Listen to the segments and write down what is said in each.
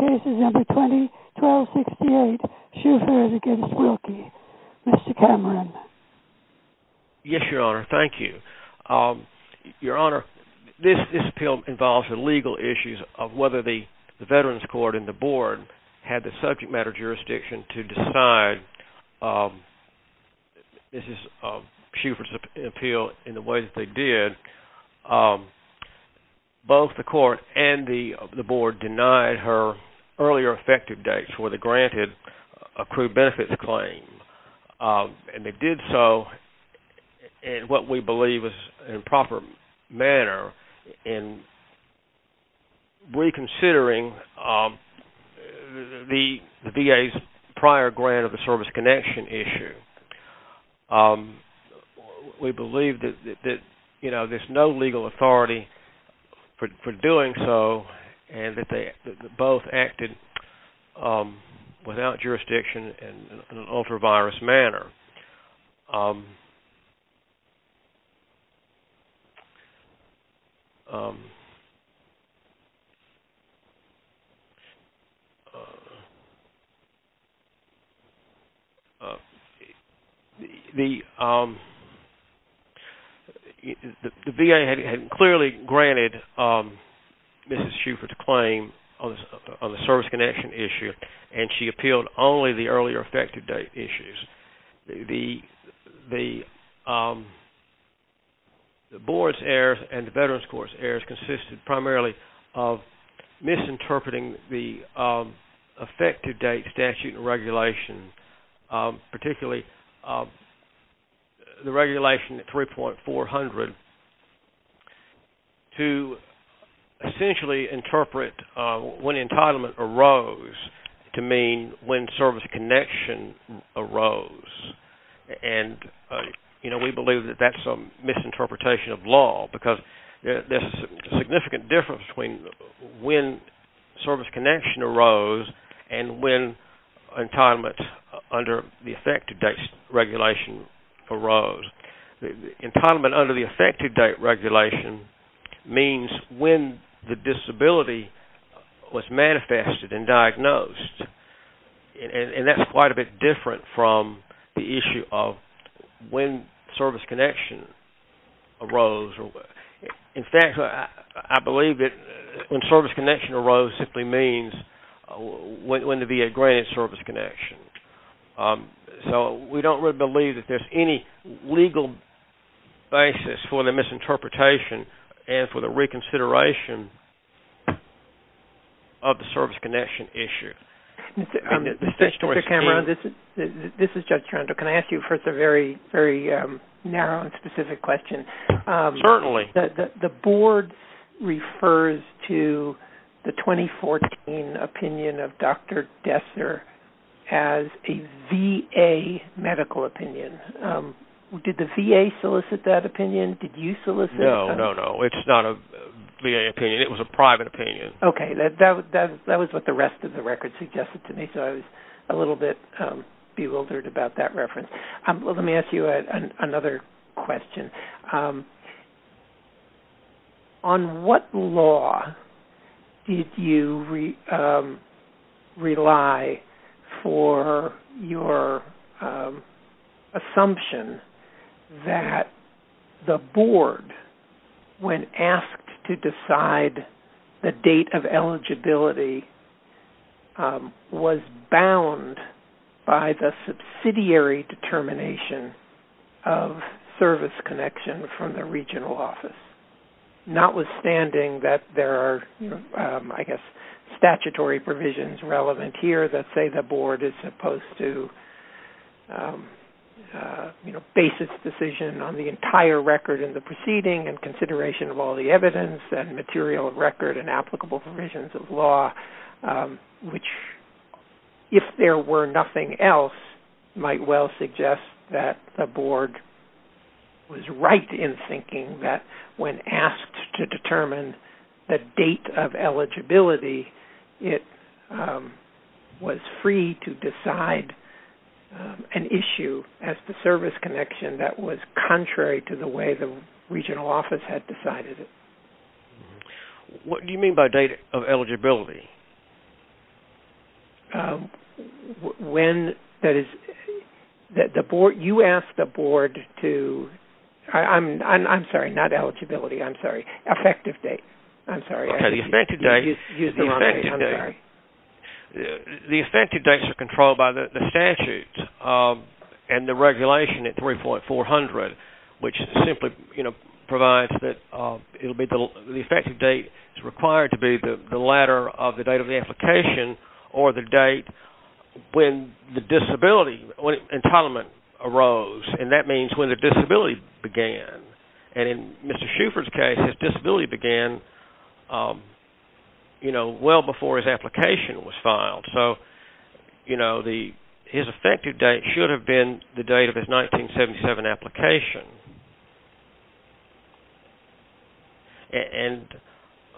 The case is number 1268, Shuford v. Wilkie. Mr. Cameron. Yes, Your Honor. Thank you. Your Honor, this appeal involves the legal issues of whether the Veterans Court and the Board had the subject matter jurisdiction to decide Mrs. Shuford's appeal in the way that they did. Both the Court and the Board denied her earlier effective dates for the granted accrued benefits claim. And they did so in what we believe is an improper manner in reconsidering the VA's prior grant of the service connection issue. We believe that there's no legal authority for doing so and that they both acted without jurisdiction in an ultra-virus manner. The VA had clearly granted Mrs. Shuford's claim on the service connection issue and she appealed only the earlier effective date issues. The Board's errors and the Veterans Court's errors consisted primarily of misinterpreting the effective date statute and regulation, particularly the regulation 3.400, to essentially interpret when entitlement arose to mean when service connection arose. And we believe that that's a misinterpretation of law because there's a significant difference between when service connection arose and when entitlement under the effective date regulation arose. Entitlement under the effective date regulation means when the disability was manifested and diagnosed. And that's quite a bit different from the issue of when service connection arose. In fact, I believe that when service connection arose simply means when the VA granted service connection. So we don't really believe that there's any legal basis for the misinterpretation and for the reconsideration of the service connection issue. This is Judge Toronto. Can I ask you first a very narrow and specific question? Certainly. The Board refers to the 2014 opinion of Dr. Desser as a VA medical opinion. Did the VA solicit that opinion? Did you solicit it? No, no, no. It's not a VA opinion. It was a private opinion. Okay. That was what the rest of the record suggested to me. So I was a little bit bewildered about that reference. Let me ask you another question. On what law did you rely for your assumption that the Board, when asked to decide the date of eligibility, was bound by the subsidiary determination of service connection from the regional office, notwithstanding that there are, I guess, statutory provisions relevant here that say the Board is supposed to base its decision on the entire record in the proceeding and consideration of all the evidence and material record and applicable provisions of law, which, if there were nothing else, might well suggest that the Board was right in thinking that when asked to determine the date of eligibility, it was free to decide an issue as to service connection that was contrary to the way the regional office had decided it. What do you mean by date of eligibility? You asked the Board to – I'm sorry, not eligibility. I'm sorry. Effective date. I'm sorry. Okay. The effective date. You used the wrong word. I'm sorry. The effective dates are controlled by the statutes and the regulation at 3.400, which simply provides that it will be – the effective date is required to be the latter of the date of eligibility. The latter of the date of the application or the date when the disability – when entitlement arose. And that means when the disability began. And in Mr. Shuford's case, his disability began, you know, well before his application was filed. So, you know, his effective date should have been the date of his 1977 application. And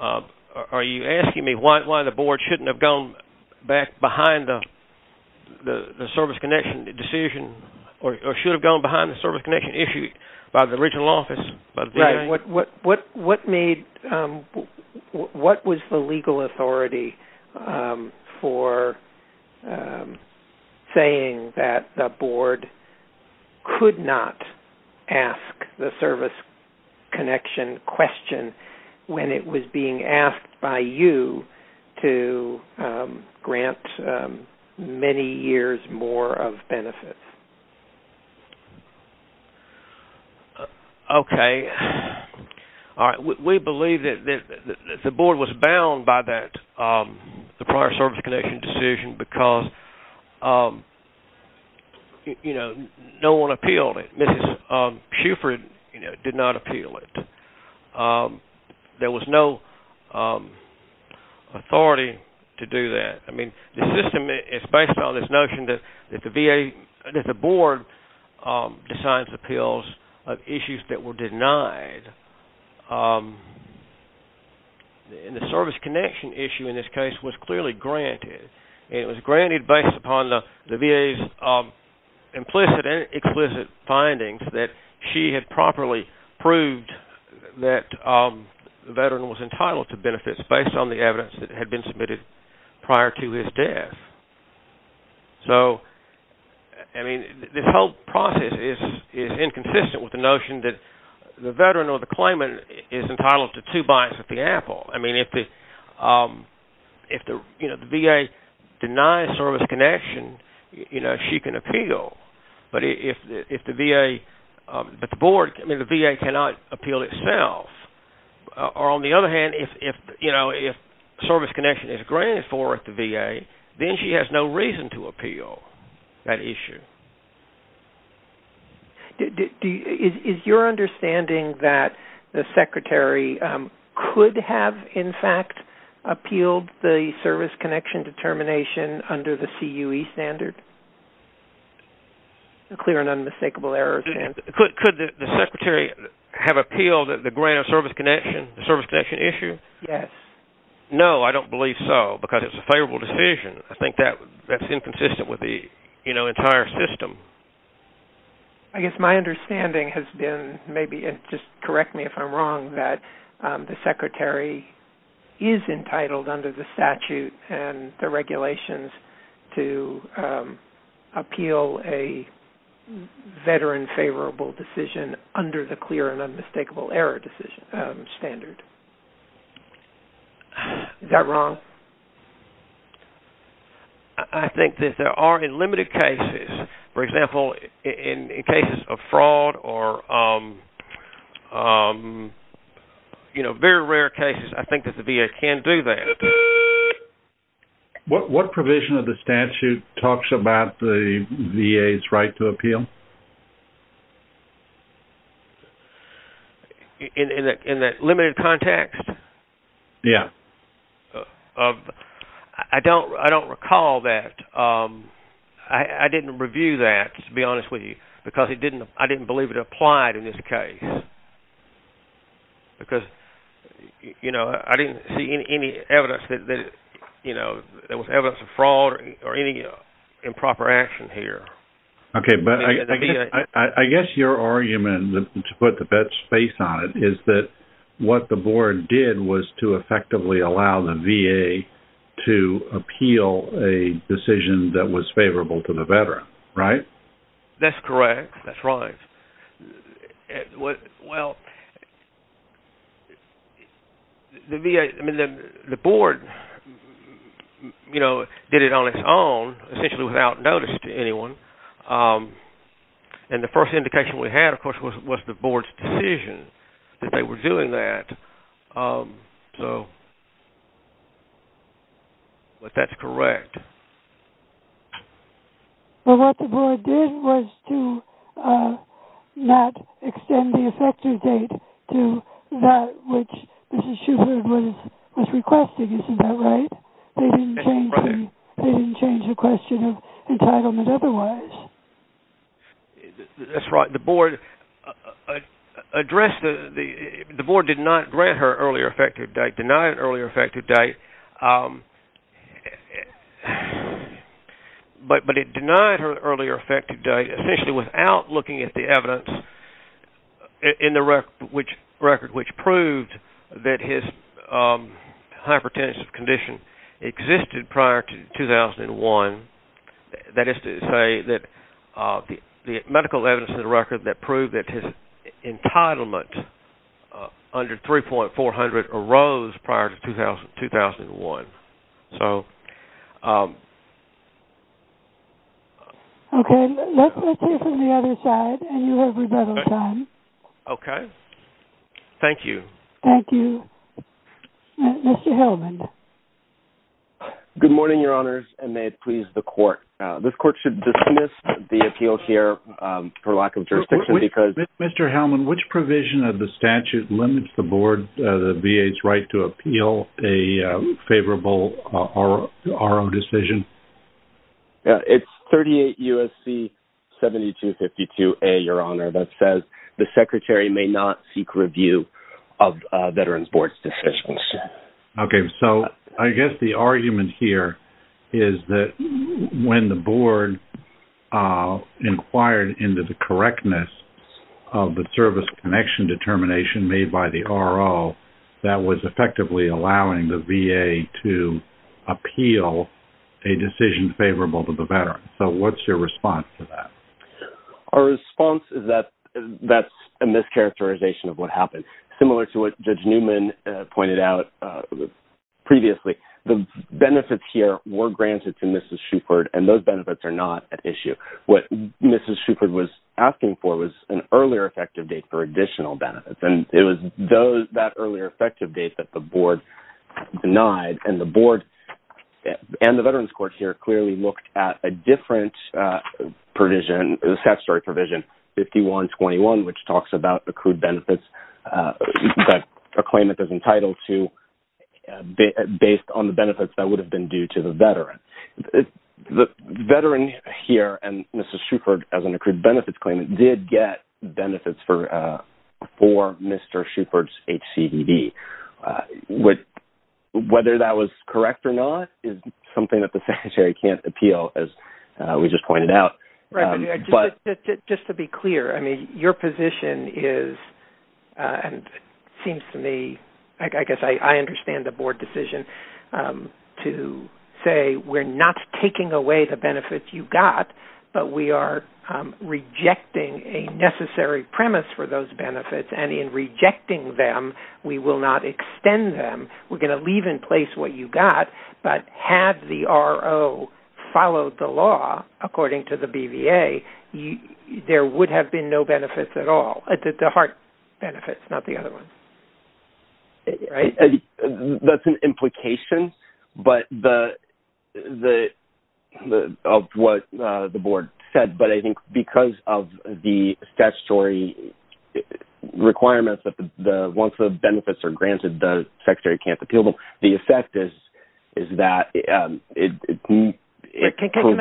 are you asking me why the Board shouldn't have gone back behind the service connection decision or should have gone behind the service connection issue by the regional office? What made – what was the legal authority for saying that the Board could not ask the service connection question when it was being asked by you to grant many years more of benefits? Okay. All right. We believe that the Board was bound by that – the prior service connection decision because, you know, no one appealed it. Mrs. Shuford, you know, did not appeal it. There was no authority to do that. I mean, the system is based on this notion that the VA – that the Board decides appeals of issues that were denied. And the service connection issue in this case was clearly granted. It was granted based upon the VA's implicit and explicit findings that she had properly proved that the Veteran was entitled to benefits based on the evidence that had been submitted prior to his death. So, I mean, this whole process is inconsistent with the notion that the Veteran or the claimant is entitled to two bites at the apple. I mean, if the VA denies service connection, you know, she can appeal. But if the VA – but the Board – I mean, the VA cannot appeal itself. Or on the other hand, if, you know, if service connection is granted for the VA, then she has no reason to appeal that issue. Is your understanding that the Secretary could have, in fact, appealed the service connection determination under the CUE standard? A clear and unmistakable error. Could the Secretary have appealed the grant of service connection, the service connection issue? Yes. No, I don't believe so, because it's a favorable decision. I think that's inconsistent with the, you know, entire system. I guess my understanding has been – maybe just correct me if I'm wrong – under the clear and unmistakable error standard. Is that wrong? I think that there are in limited cases. For example, in cases of fraud or, you know, very rare cases, I think that the VA can do that. What provision of the statute talks about the VA's right to appeal? In that limited context? Yeah. I don't recall that. I didn't review that, to be honest with you, because I didn't believe it applied in this case. Because, you know, I didn't see any evidence that, you know, there was evidence of fraud or any improper action here. Okay, but I guess your argument, to put the bet's face on it, is that what the board did was to effectively allow the VA to appeal a decision that was favorable to the veteran, right? That's correct. That's right. Well, the board, you know, did it on its own, essentially without notice to anyone. And the first indication we had, of course, was the board's decision that they were doing that. But that's correct. But what the board did was to not extend the effective date to that which Mrs. Schubert was requesting. Isn't that right? They didn't change the question of entitlement otherwise. That's right. The board addressed the – the board did not grant her earlier effective date, denied an earlier effective date. But it denied her earlier effective date, essentially without looking at the evidence in the record, which proved that his hypertension condition existed prior to 2001. That is to say that the medical evidence in the record that proved that his entitlement under 3.400 arose prior to 2001. So – Okay. Let's hear from the other side, and you have rebuttal time. Okay. Thank you. Thank you. Mr. Hellman. Good morning, Your Honors, and may it please the court. This court should dismiss the appeal here for lack of jurisdiction because – It's 38 U.S.C. 7252A, Your Honor, that says the secretary may not seek review of veterans' board decisions. Okay. So I guess the argument here is that when the board inquired into the correctness of the service connection determination made by the RO, that was effectively allowing the VA to appeal a decision favorable to the veteran. So what's your response to that? Our response is that that's a mischaracterization of what happened. Similar to what Judge Newman pointed out previously, the benefits here were granted to Mrs. Shuford, and those benefits are not at issue. What Mrs. Shuford was asking for was an earlier effective date for additional benefits, and it was that earlier effective date that the board denied, and the board and the veterans' court here clearly looked at a different provision, a statutory provision, 5121, which talks about accrued benefits that a claimant is entitled to based on the benefits that would have been due to the veteran. The veteran here and Mrs. Shuford, as an accrued benefits claimant, did get benefits for Mr. Shuford's HCVD. Whether that was correct or not is something that the secretary can't appeal, as we just pointed out. Right. But just to be clear, I mean, your position is, and it seems to me, I guess I understand the board decision to say we're not taking away the benefits you got, but we are rejecting a necessary premise for those benefits. And in rejecting them, we will not extend them. We're going to leave in place what you got. But had the RO followed the law, according to the BVA, there would have been no benefits at all. The heart benefits, not the other ones. Right? That's an implication of what the board said, but I think because of the statutory requirements that once the benefits are granted, the secretary can't appeal them, the effect is that it could include- Yes. Why doesn't that imply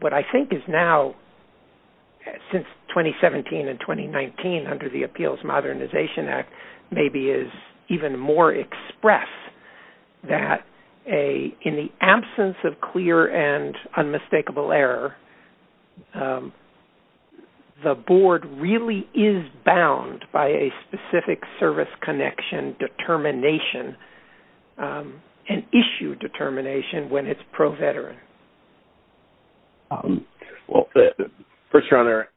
what I think is now, since 2017 and 2019, under the Appeals Modernization Act, maybe is even more expressed, that in the absence of clear and unmistakable error, the board really is bound by a specific service connection determination, an issue determination, when it's pro-veteran? Well, First Your Honor,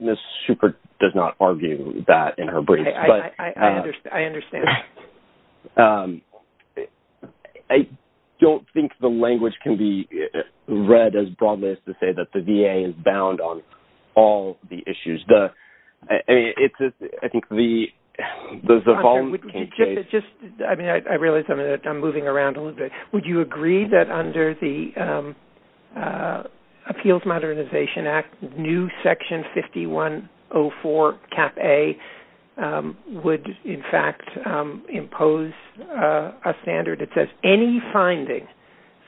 Ms. Schubert does not argue that in her brief. I understand. I don't think the language can be read as broad as to say that the VA is bound on all the issues. I think the- I realize I'm moving around a little bit. Would you agree that under the Appeals Modernization Act, new Section 5104, Cap A, would in fact impose a standard that says, Any finding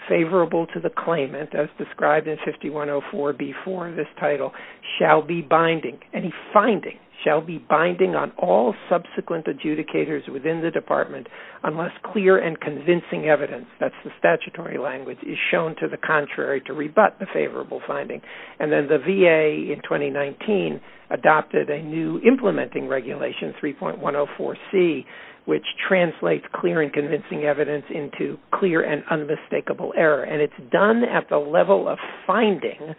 favorable to the claimant, as described in 5104 before this title, shall be binding-any finding-shall be binding on all subsequent adjudicators within the department unless clear and convincing evidence-that's the statutory language-is shown to the contrary to rebut the favorable finding. And then the VA, in 2019, adopted a new implementing regulation, 3.104C, which translates clear and convincing evidence into clear and unmistakable error. And it's done at the level of finding,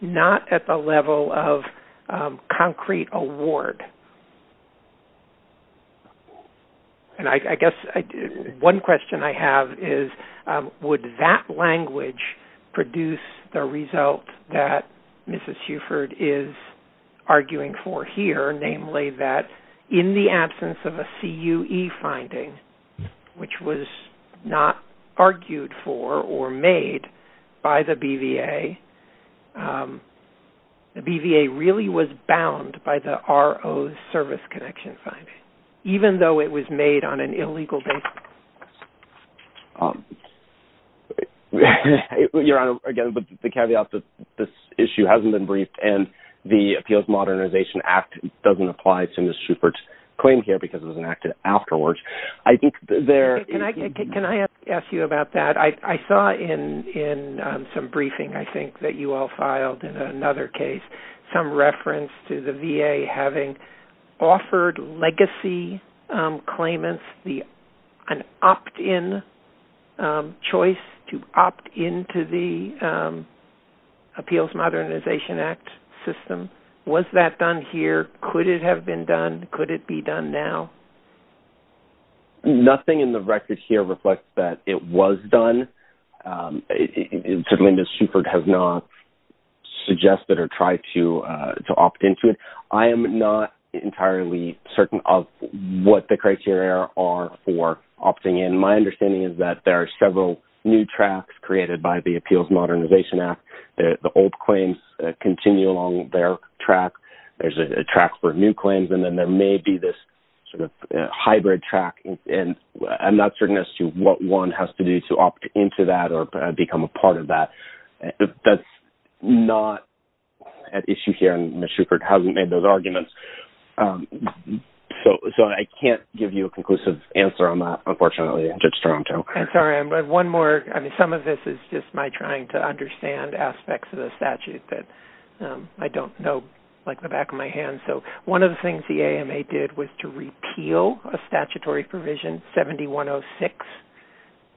not at the level of concrete award. And I guess one question I have is, would that language produce the result that Mrs. Schubert is arguing for here, namely that in the absence of a CUE finding, which was not argued for or made by the BVA, the BVA really was bound by the ROC to impose service connection findings, even though it was made on an illegal basis? Your Honor, again, the caveat is that this issue hasn't been briefed and the Appeals Modernization Act doesn't apply to Mrs. Schubert's claim here because it was enacted afterwards. Can I ask you about that? I saw in some briefing, I think, that you all filed in another case some reference to the VA having offered legacy claimants an opt-in choice to opt into the Appeals Modernization Act system. Was that done here? Could it have been done? Could it be done now? Nothing in the record here reflects that it was done. Certainly, Mrs. Schubert has not suggested or tried to opt into it. I am not entirely certain of what the criteria are for opting in. My understanding is that there are several new tracks created by the Appeals Modernization Act. The old claims continue along their track. There's a track for new claims, and then there may be this sort of hybrid track. I'm not certain as to what one has to do to opt into that or become a part of that. That's not an issue here, and Mrs. Schubert hasn't made those arguments. I can't give you a conclusive answer on that, unfortunately, Judge Stronto. I'm sorry. Some of this is just my trying to understand aspects of the statute that I don't know, like the back of my hand. One of the things the AMA did was to repeal a statutory provision, 7106,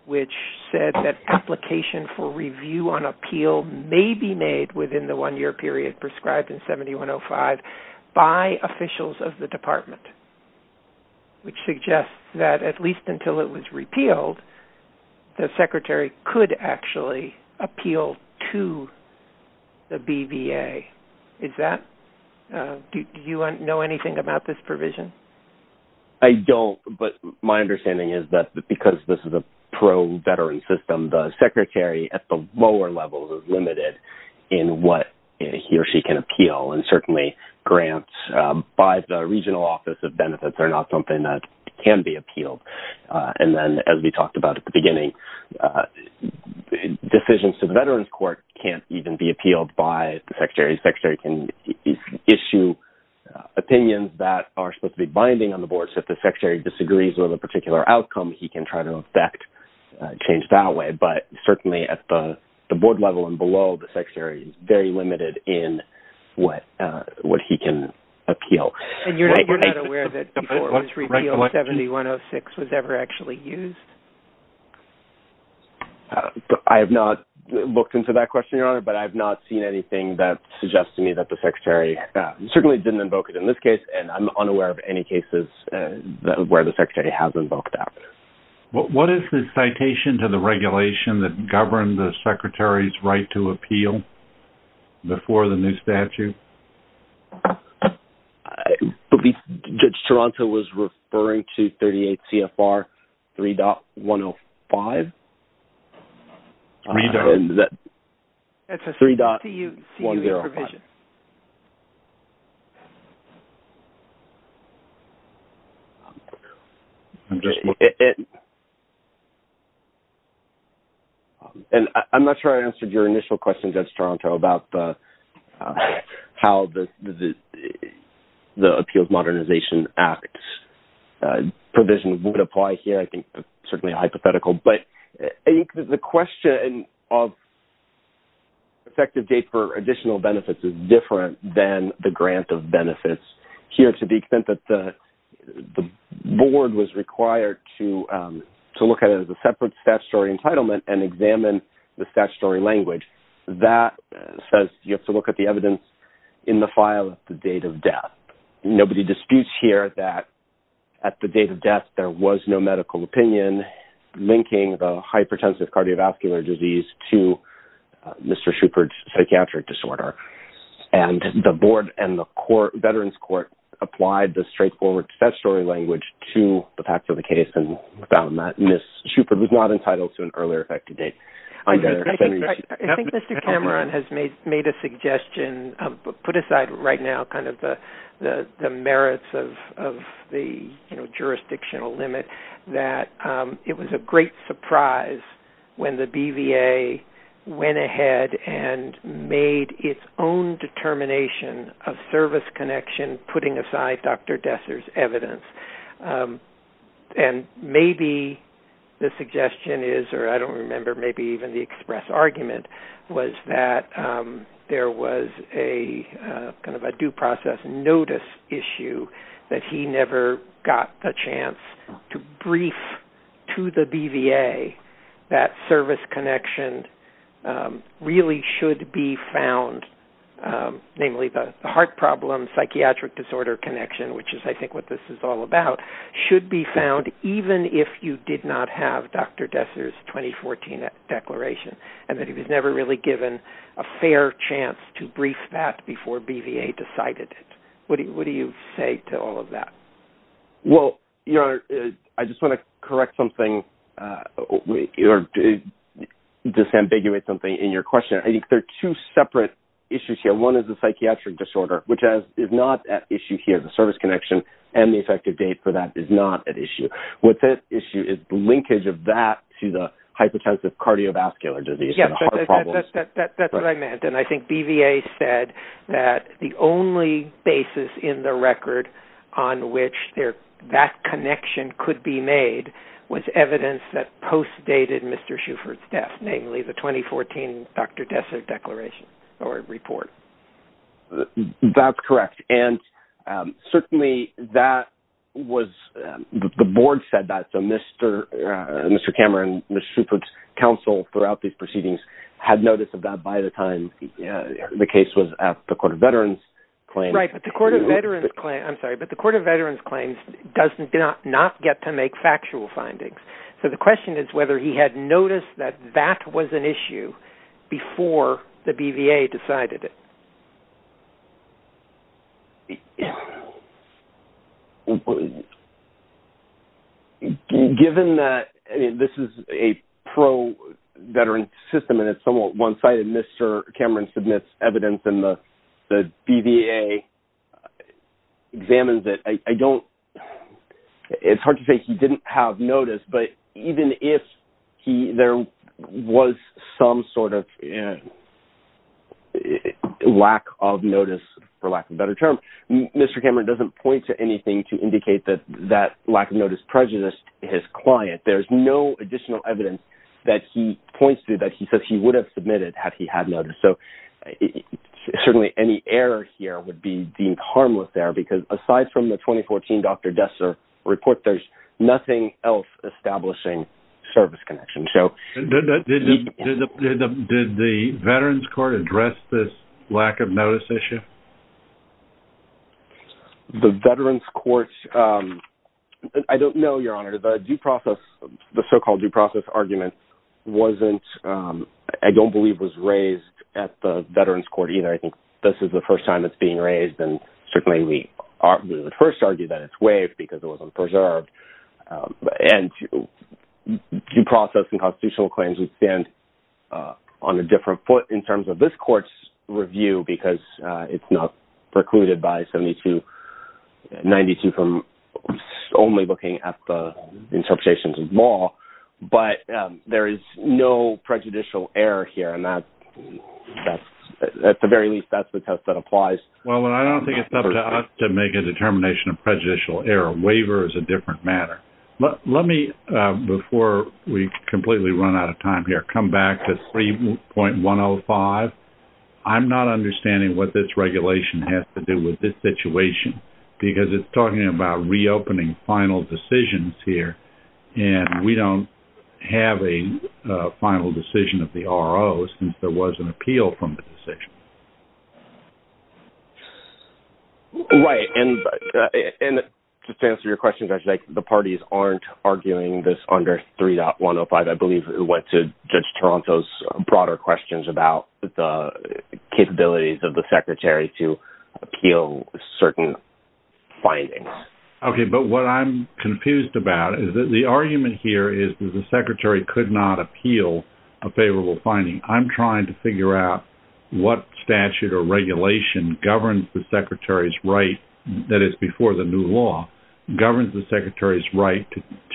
which said that application for review on appeal may be made within the one-year period prescribed in 7105 by officials of the department, which suggests that at least until it was repealed, the secretary could actually appeal to the BVA. Do you know anything about this provision? The secretary can issue opinions that are supposed to be binding on the board, so if the secretary disagrees with a particular outcome, he can try to effect change that way, but certainly at the board level and below, the secretary is very limited in what he can appeal. You're not aware that before it was repealed, 7106 was ever actually used? I have not looked into that question, Your Honor, but I have not seen anything that suggests to me that the secretary certainly didn't invoke it in this case, and I'm unaware of any cases where the secretary has invoked that. What is the citation to the regulation that governed the secretary's right to appeal before the new statute? I believe Judge Toronto was referring to 38 CFR 3.105. It's a 3.105. I'm not sure I answered your initial question, Judge Toronto, about how the Appeals Modernization Act provision would apply here. The question of effective date for additional benefits is different than the grant of benefits here to the extent that the board was required to look at it as a separate statutory entitlement and examine the statutory language. That says you have to look at the evidence in the file at the date of death. Nobody disputes here that at the date of death, there was no medical opinion linking the hypertensive cardiovascular disease to Mr. Shupert's psychiatric disorder. The board and the Veterans Court applied the straightforward statutory language to the fact of the case and found that Ms. Shupert was not entitled to an earlier effective date. I think Mr. Cameron has put aside right now the merits of the jurisdictional limit. It was a great surprise when the BVA went ahead and made its own determination of service connection, putting aside Dr. Desser's evidence. Maybe the suggestion is, or I don't remember, maybe even the express argument was that there was a due process notice issue that he never got the chance to brief to the BVA that service connection really should be found. Namely, the heart problem, psychiatric disorder connection, which is I think what this is all about, should be found even if you did not have Dr. Desser's 2014 declaration and that he was never really given a fair chance to brief that before BVA decided it. What do you say to all of that? Well, Your Honor, I just want to correct something or disambiguate something in your question. I think there are two separate issues here. One is the psychiatric disorder, which is not at issue here, the service connection, and the effective date for that is not at issue. What's at issue is the linkage of that to the hypertensive cardiovascular disease and heart problems. That's what I meant. And I think BVA said that the only basis in the record on which that connection could be made was evidence that postdated Mr. Shuford's death, namely the 2014 Dr. Desser declaration or report. That's correct. Certainly, the board said that, so Mr. Cameron, Mr. Shuford's counsel throughout these proceedings had notice of that by the time the case was at the Court of Veterans Claims. Right, but the Court of Veterans Claims does not get to make factual findings. So the question is whether he had noticed that that was an issue before the BVA decided it. Well, given that this is a pro-veteran system and it's somewhat one-sided, Mr. Cameron submits evidence and the BVA examines it. It's hard to say he didn't have notice, but even if there was some sort of lack of notice, for lack of a better term, Mr. Cameron doesn't point to anything to indicate that that lack of notice prejudiced his client. There's no additional evidence that he points to that he says he would have submitted had he had noticed. Certainly, any error here would be deemed harmless there because aside from the 2014 Dr. Desser report, there's nothing else establishing service connection. Did the Veterans Court address this lack of notice issue? The Veterans Court, I don't know, Your Honor. The due process, the so-called due process argument wasn't, I don't believe was raised at the Veterans Court either. I think this is the first time it's being raised and certainly we would first argue that it's waived because it wasn't preserved. Due process and constitutional claims would stand on a different foot in terms of this court's review because it's not precluded by 7292 from only looking at the interpretations of law, but there is no prejudicial error here. At the very least, that's the test that applies. Well, I don't think it's up to us to make a determination of prejudicial error. Waiver is a different matter. Let me, before we completely run out of time here, come back to 3.105. I'm not understanding what this regulation has to do with this situation because it's talking about reopening final decisions here and we don't have a final decision of the RO since there was an appeal from the decision. Right, and to answer your question, Judge, the parties aren't arguing this under 3.105. I believe it went to Judge Toronto's broader questions about the capabilities of the Secretary to appeal certain findings. Okay, but what I'm confused about is that the argument here is that the Secretary could not appeal a favorable finding. I'm trying to figure out what statute or regulation governs the Secretary's right, that is before the new law, governs the Secretary's right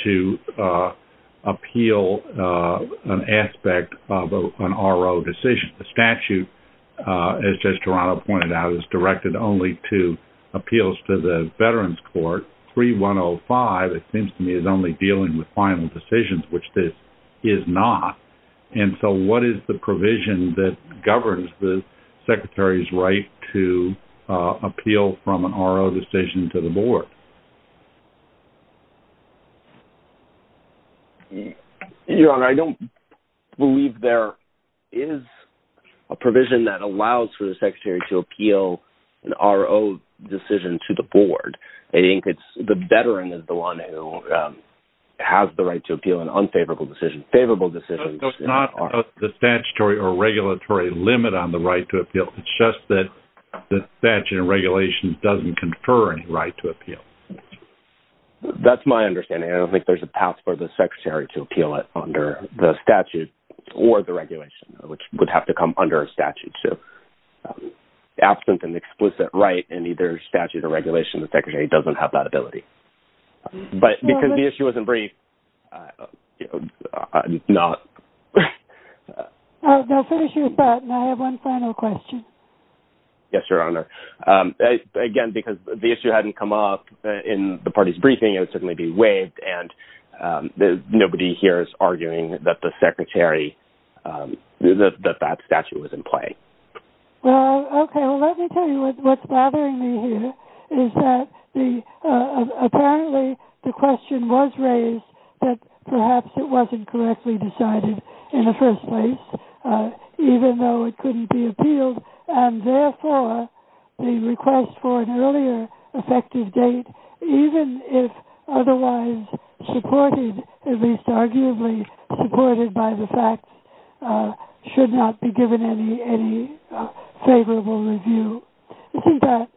to appeal an aspect of an RO decision. The statute, as Judge Toronto pointed out, is directed only to appeals to the Veterans Court. 3.105, it seems to me, is only dealing with final decisions, which this is not. And so what is the provision that governs the Secretary's right to appeal from an RO decision to the Board? Your Honor, I don't believe there is a provision that allows for the Secretary to appeal an RO decision to the Board. The Veteran is the one who has the right to appeal an unfavorable decision. It's not the statutory or regulatory limit on the right to appeal, it's just that the statute and regulation doesn't confer any right to appeal. That's my understanding. I don't think there's a passport for the Secretary to appeal it under the statute or the regulation, which would have to come under a statute. Absent an explicit right in either statute or regulation, the Secretary doesn't have that ability. But because the issue wasn't briefed, I'm not... I'll finish with that, and I have one final question. Yes, Your Honor. Again, because the issue hadn't come up in the party's briefing, it would certainly be waived, and nobody here is arguing that that statute was in play. Well, okay. Well, let me tell you what's bothering me here is that apparently the question was raised that perhaps it wasn't correctly decided in the first place, even though it couldn't be appealed, and therefore the request for an earlier effective date, even if otherwise supported, at least arguably supported by the facts, should not be given any favorable review. Isn't that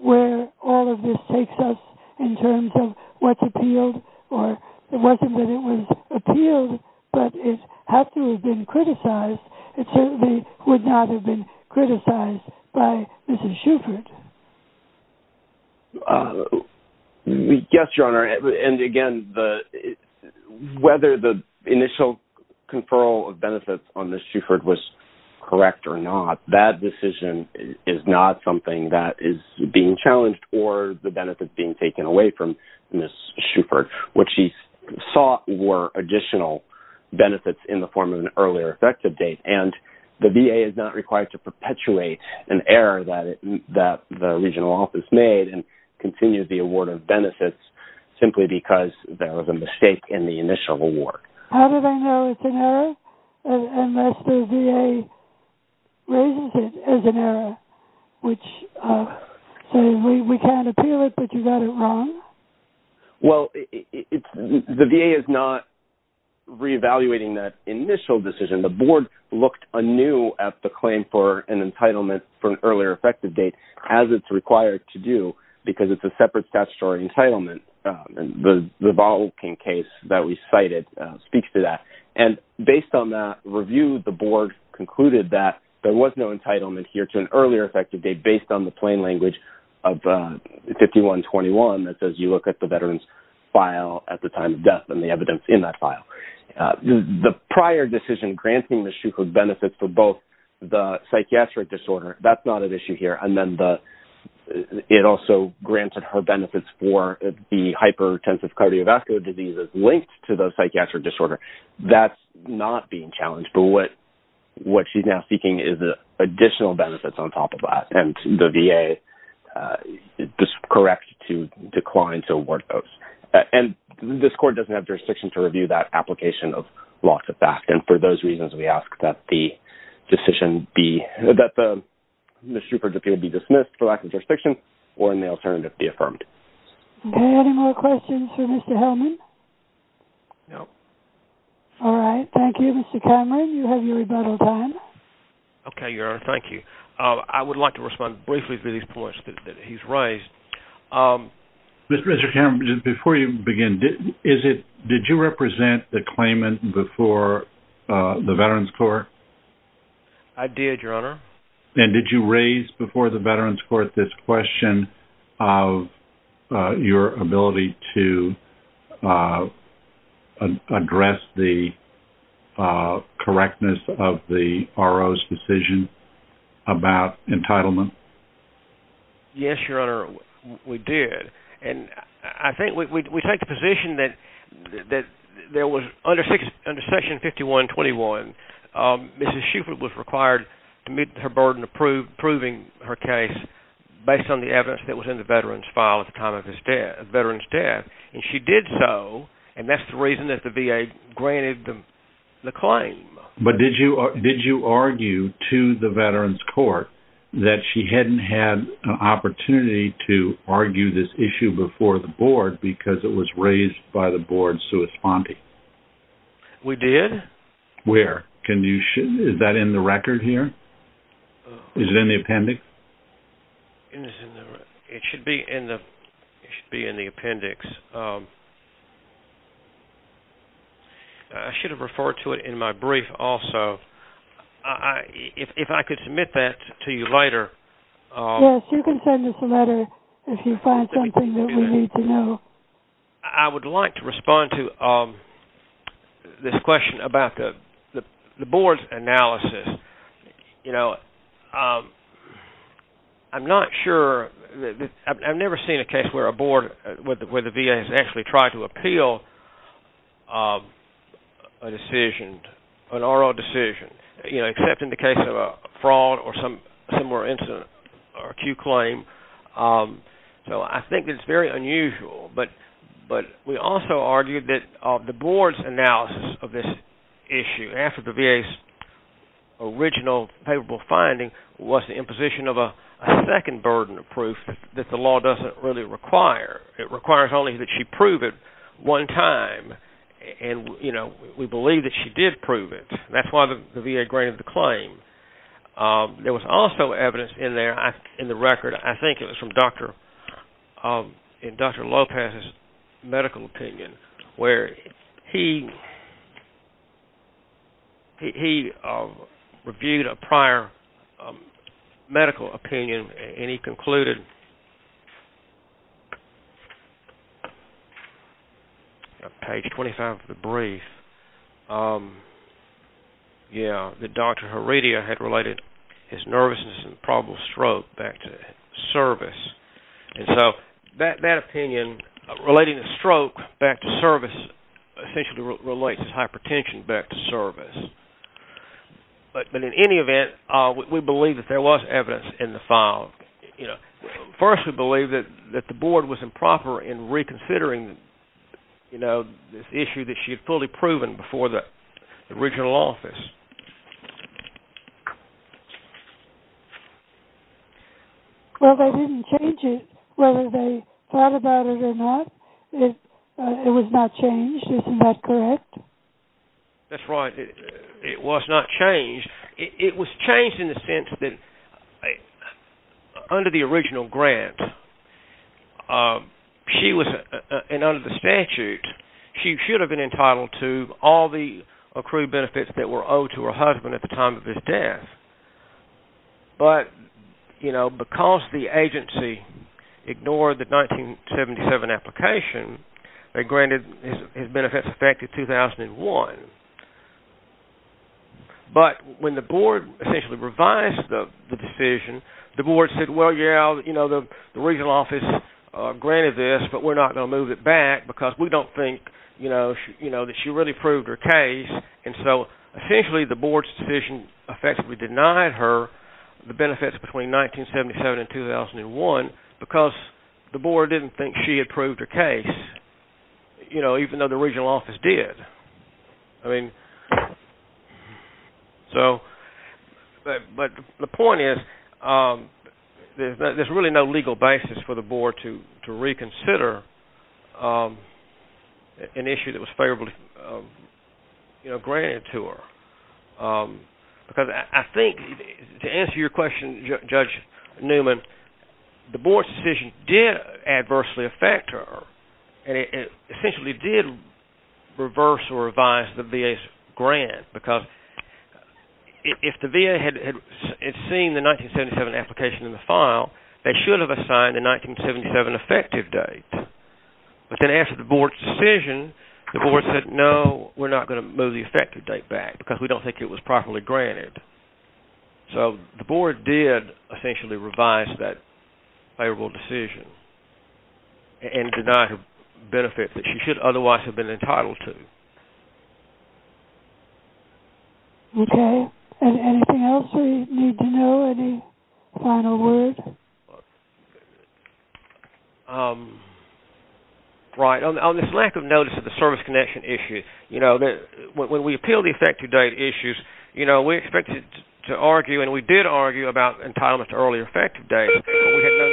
where all of this takes us in terms of what's appealed? Or it wasn't that it was appealed, but it had to have been criticized. It certainly would not have been criticized by Mrs. Shuford. Yes, Your Honor. And again, whether the initial conferral of benefits on Mrs. Shuford was correct or not, that decision is not something that is being challenged or the benefits being taken away from Mrs. Shuford. What she sought were additional benefits in the form of an earlier effective date, and the VA is not required to perpetuate an error that the regional office made and continue the award of benefits simply because there was a mistake in the initial award. How do they know it's an error unless the VA raises it as an error, which says we can't appeal it, but you got it wrong? Well, the VA is not reevaluating that initial decision. The board looked anew at the claim for an entitlement for an earlier effective date, as it's required to do, because it's a separate statutory entitlement. The Volkin case that we cited speaks to that. And based on that review, the board concluded that there was no entitlement here to an earlier effective date based on the plain language of 5121 that says you look at the veteran's file at the time of death and the evidence in that file. The prior decision granting Mrs. Shuford benefits for both the psychiatric disorder, that's not an issue here. It also granted her benefits for the hypertensive cardiovascular diseases linked to the psychiatric disorder. That's not being challenged. But what she's now seeking is additional benefits on top of that, and the VA is correct to decline to award those. And this court doesn't have jurisdiction to review that application of law to fact, and for those reasons, we ask that the decision be – that Mrs. Shuford's appeal be dismissed for lack of jurisdiction or may alternatively be affirmed. Okay. Any more questions for Mr. Hellman? No. All right. Thank you, Mr. Cameron. You have your rebuttal time. Okay, Your Honor. Thank you. I would like to respond briefly to these points that he's raised. Mr. Cameron, before you begin, did you represent the claimant before the Veterans Court? I did, Your Honor. And did you raise before the Veterans Court this question of your ability to address the correctness of the RO's decision about entitlement? Yes, Your Honor, we did. And I think we take the position that there was – under Section 5121, Mrs. Shuford was required to meet her burden of proving her case based on the evidence that was in the Veterans file at the time of his death – Veterans death. And she did so, and that's the reason that the VA granted the claim. But did you argue to the Veterans Court that she hadn't had an opportunity to argue this issue before the Board because it was raised by the Board's corresponding? We did. Where? Can you – is that in the record here? Is it in the appendix? It should be in the appendix. I should have referred to it in my brief also. If I could submit that to you later. Yes, you can send us a letter if you find something that we need to know. I would like to respond to this question about the Board's analysis. You know, I'm not sure – I've never seen a case where a Board – where the VA has actually tried to appeal a decision, an RO decision, you know, except in the case of a fraud or some more incident or acute claim. So I think it's very unusual. But we also argued that the Board's analysis of this issue after the VA's original favorable finding was the imposition of a second burden of proof that the law doesn't really require. It requires only that she prove it one time. And, you know, we believe that she did prove it. That's why the VA granted the claim. There was also evidence in there, in the record. I think it was from Dr. Lopez's medical opinion where he reviewed a prior medical opinion and he concluded – his nervousness and probable stroke back to service. And so that opinion, relating the stroke back to service, essentially relates hypertension back to service. But in any event, we believe that there was evidence in the file. First, we believe that the Board was improper in reconsidering, you know, this issue that she had fully proven before the original office. Well, they didn't change it, whether they thought about it or not. It was not changed. Isn't that correct? That's right. It was not changed. It was changed in the sense that under the original grant, she was – and under the statute, she should have been entitled to all the accrued benefits that were owed to her husband at the time of his death. But, you know, because the agency ignored the 1977 application, they granted his benefits effective 2001. But when the Board essentially revised the decision, the Board said, well, yeah, you know, the original office granted this, but we're not going to move it back because we don't think, you know, that she really proved her case. And so essentially the Board's decision effectively denied her the benefits between 1977 and 2001 because the Board didn't think she had proved her case, you know, even though the original office did. I mean, so – but the point is there's really no legal basis for the Board to reconsider an issue that was favorably, you know, granted to her. Because I think, to answer your question, Judge Newman, the Board's decision did adversely affect her, and it essentially did reverse or revise the VA's grant. Because if the VA had seen the 1977 application in the file, they should have assigned a 1977 effective date. But then after the Board's decision, the Board said, no, we're not going to move the effective date back because we don't think it was properly granted. So the Board did essentially revise that favorable decision and deny her benefits that she should otherwise have been entitled to. Okay. And anything else we need to know? Any final words? Right. On this lack of notice of the service connection issue, you know, when we appeal the effective date issues, you know, we expected to argue and we did argue about entitlement to early effective dates. But we had no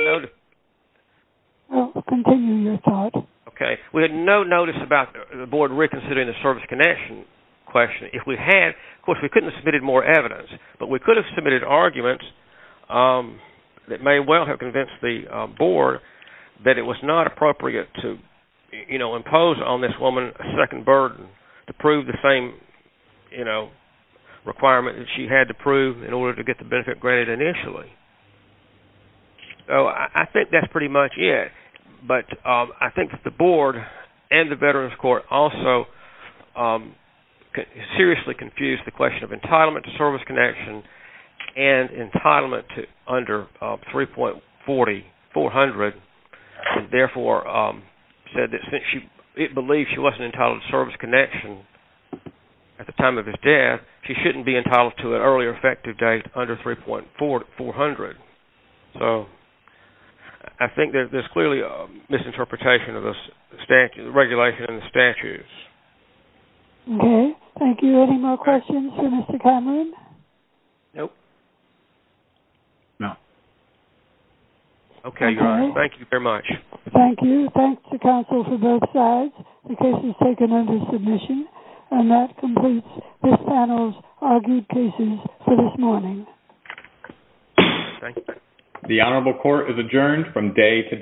notice. Okay. We had no notice about the Board reconsidering the service connection question. If we had, of course, we couldn't have submitted more evidence. But we could have submitted arguments that may well have convinced the Board that it was not appropriate to, you know, requirement that she had to prove in order to get the benefit granted initially. So I think that's pretty much it. But I think that the Board and the Veterans Court also seriously confused the question of entitlement to service connection and entitlement to under 3.40, 400. And therefore said that since she believes she wasn't entitled to service connection at the time of his death, she shouldn't be entitled to an early effective date under 3.40, 400. So I think that there's clearly a misinterpretation of the regulation and the statutes. Okay. Thank you. Any more questions for Mr. Conlon? Nope. No. Okay. Thank you very much. Thank you. Thanks to counsel for both sides. The case is taken under submission. And that completes this panel's argued cases for this morning. Thank you. The Honorable Court is adjourned from day to day.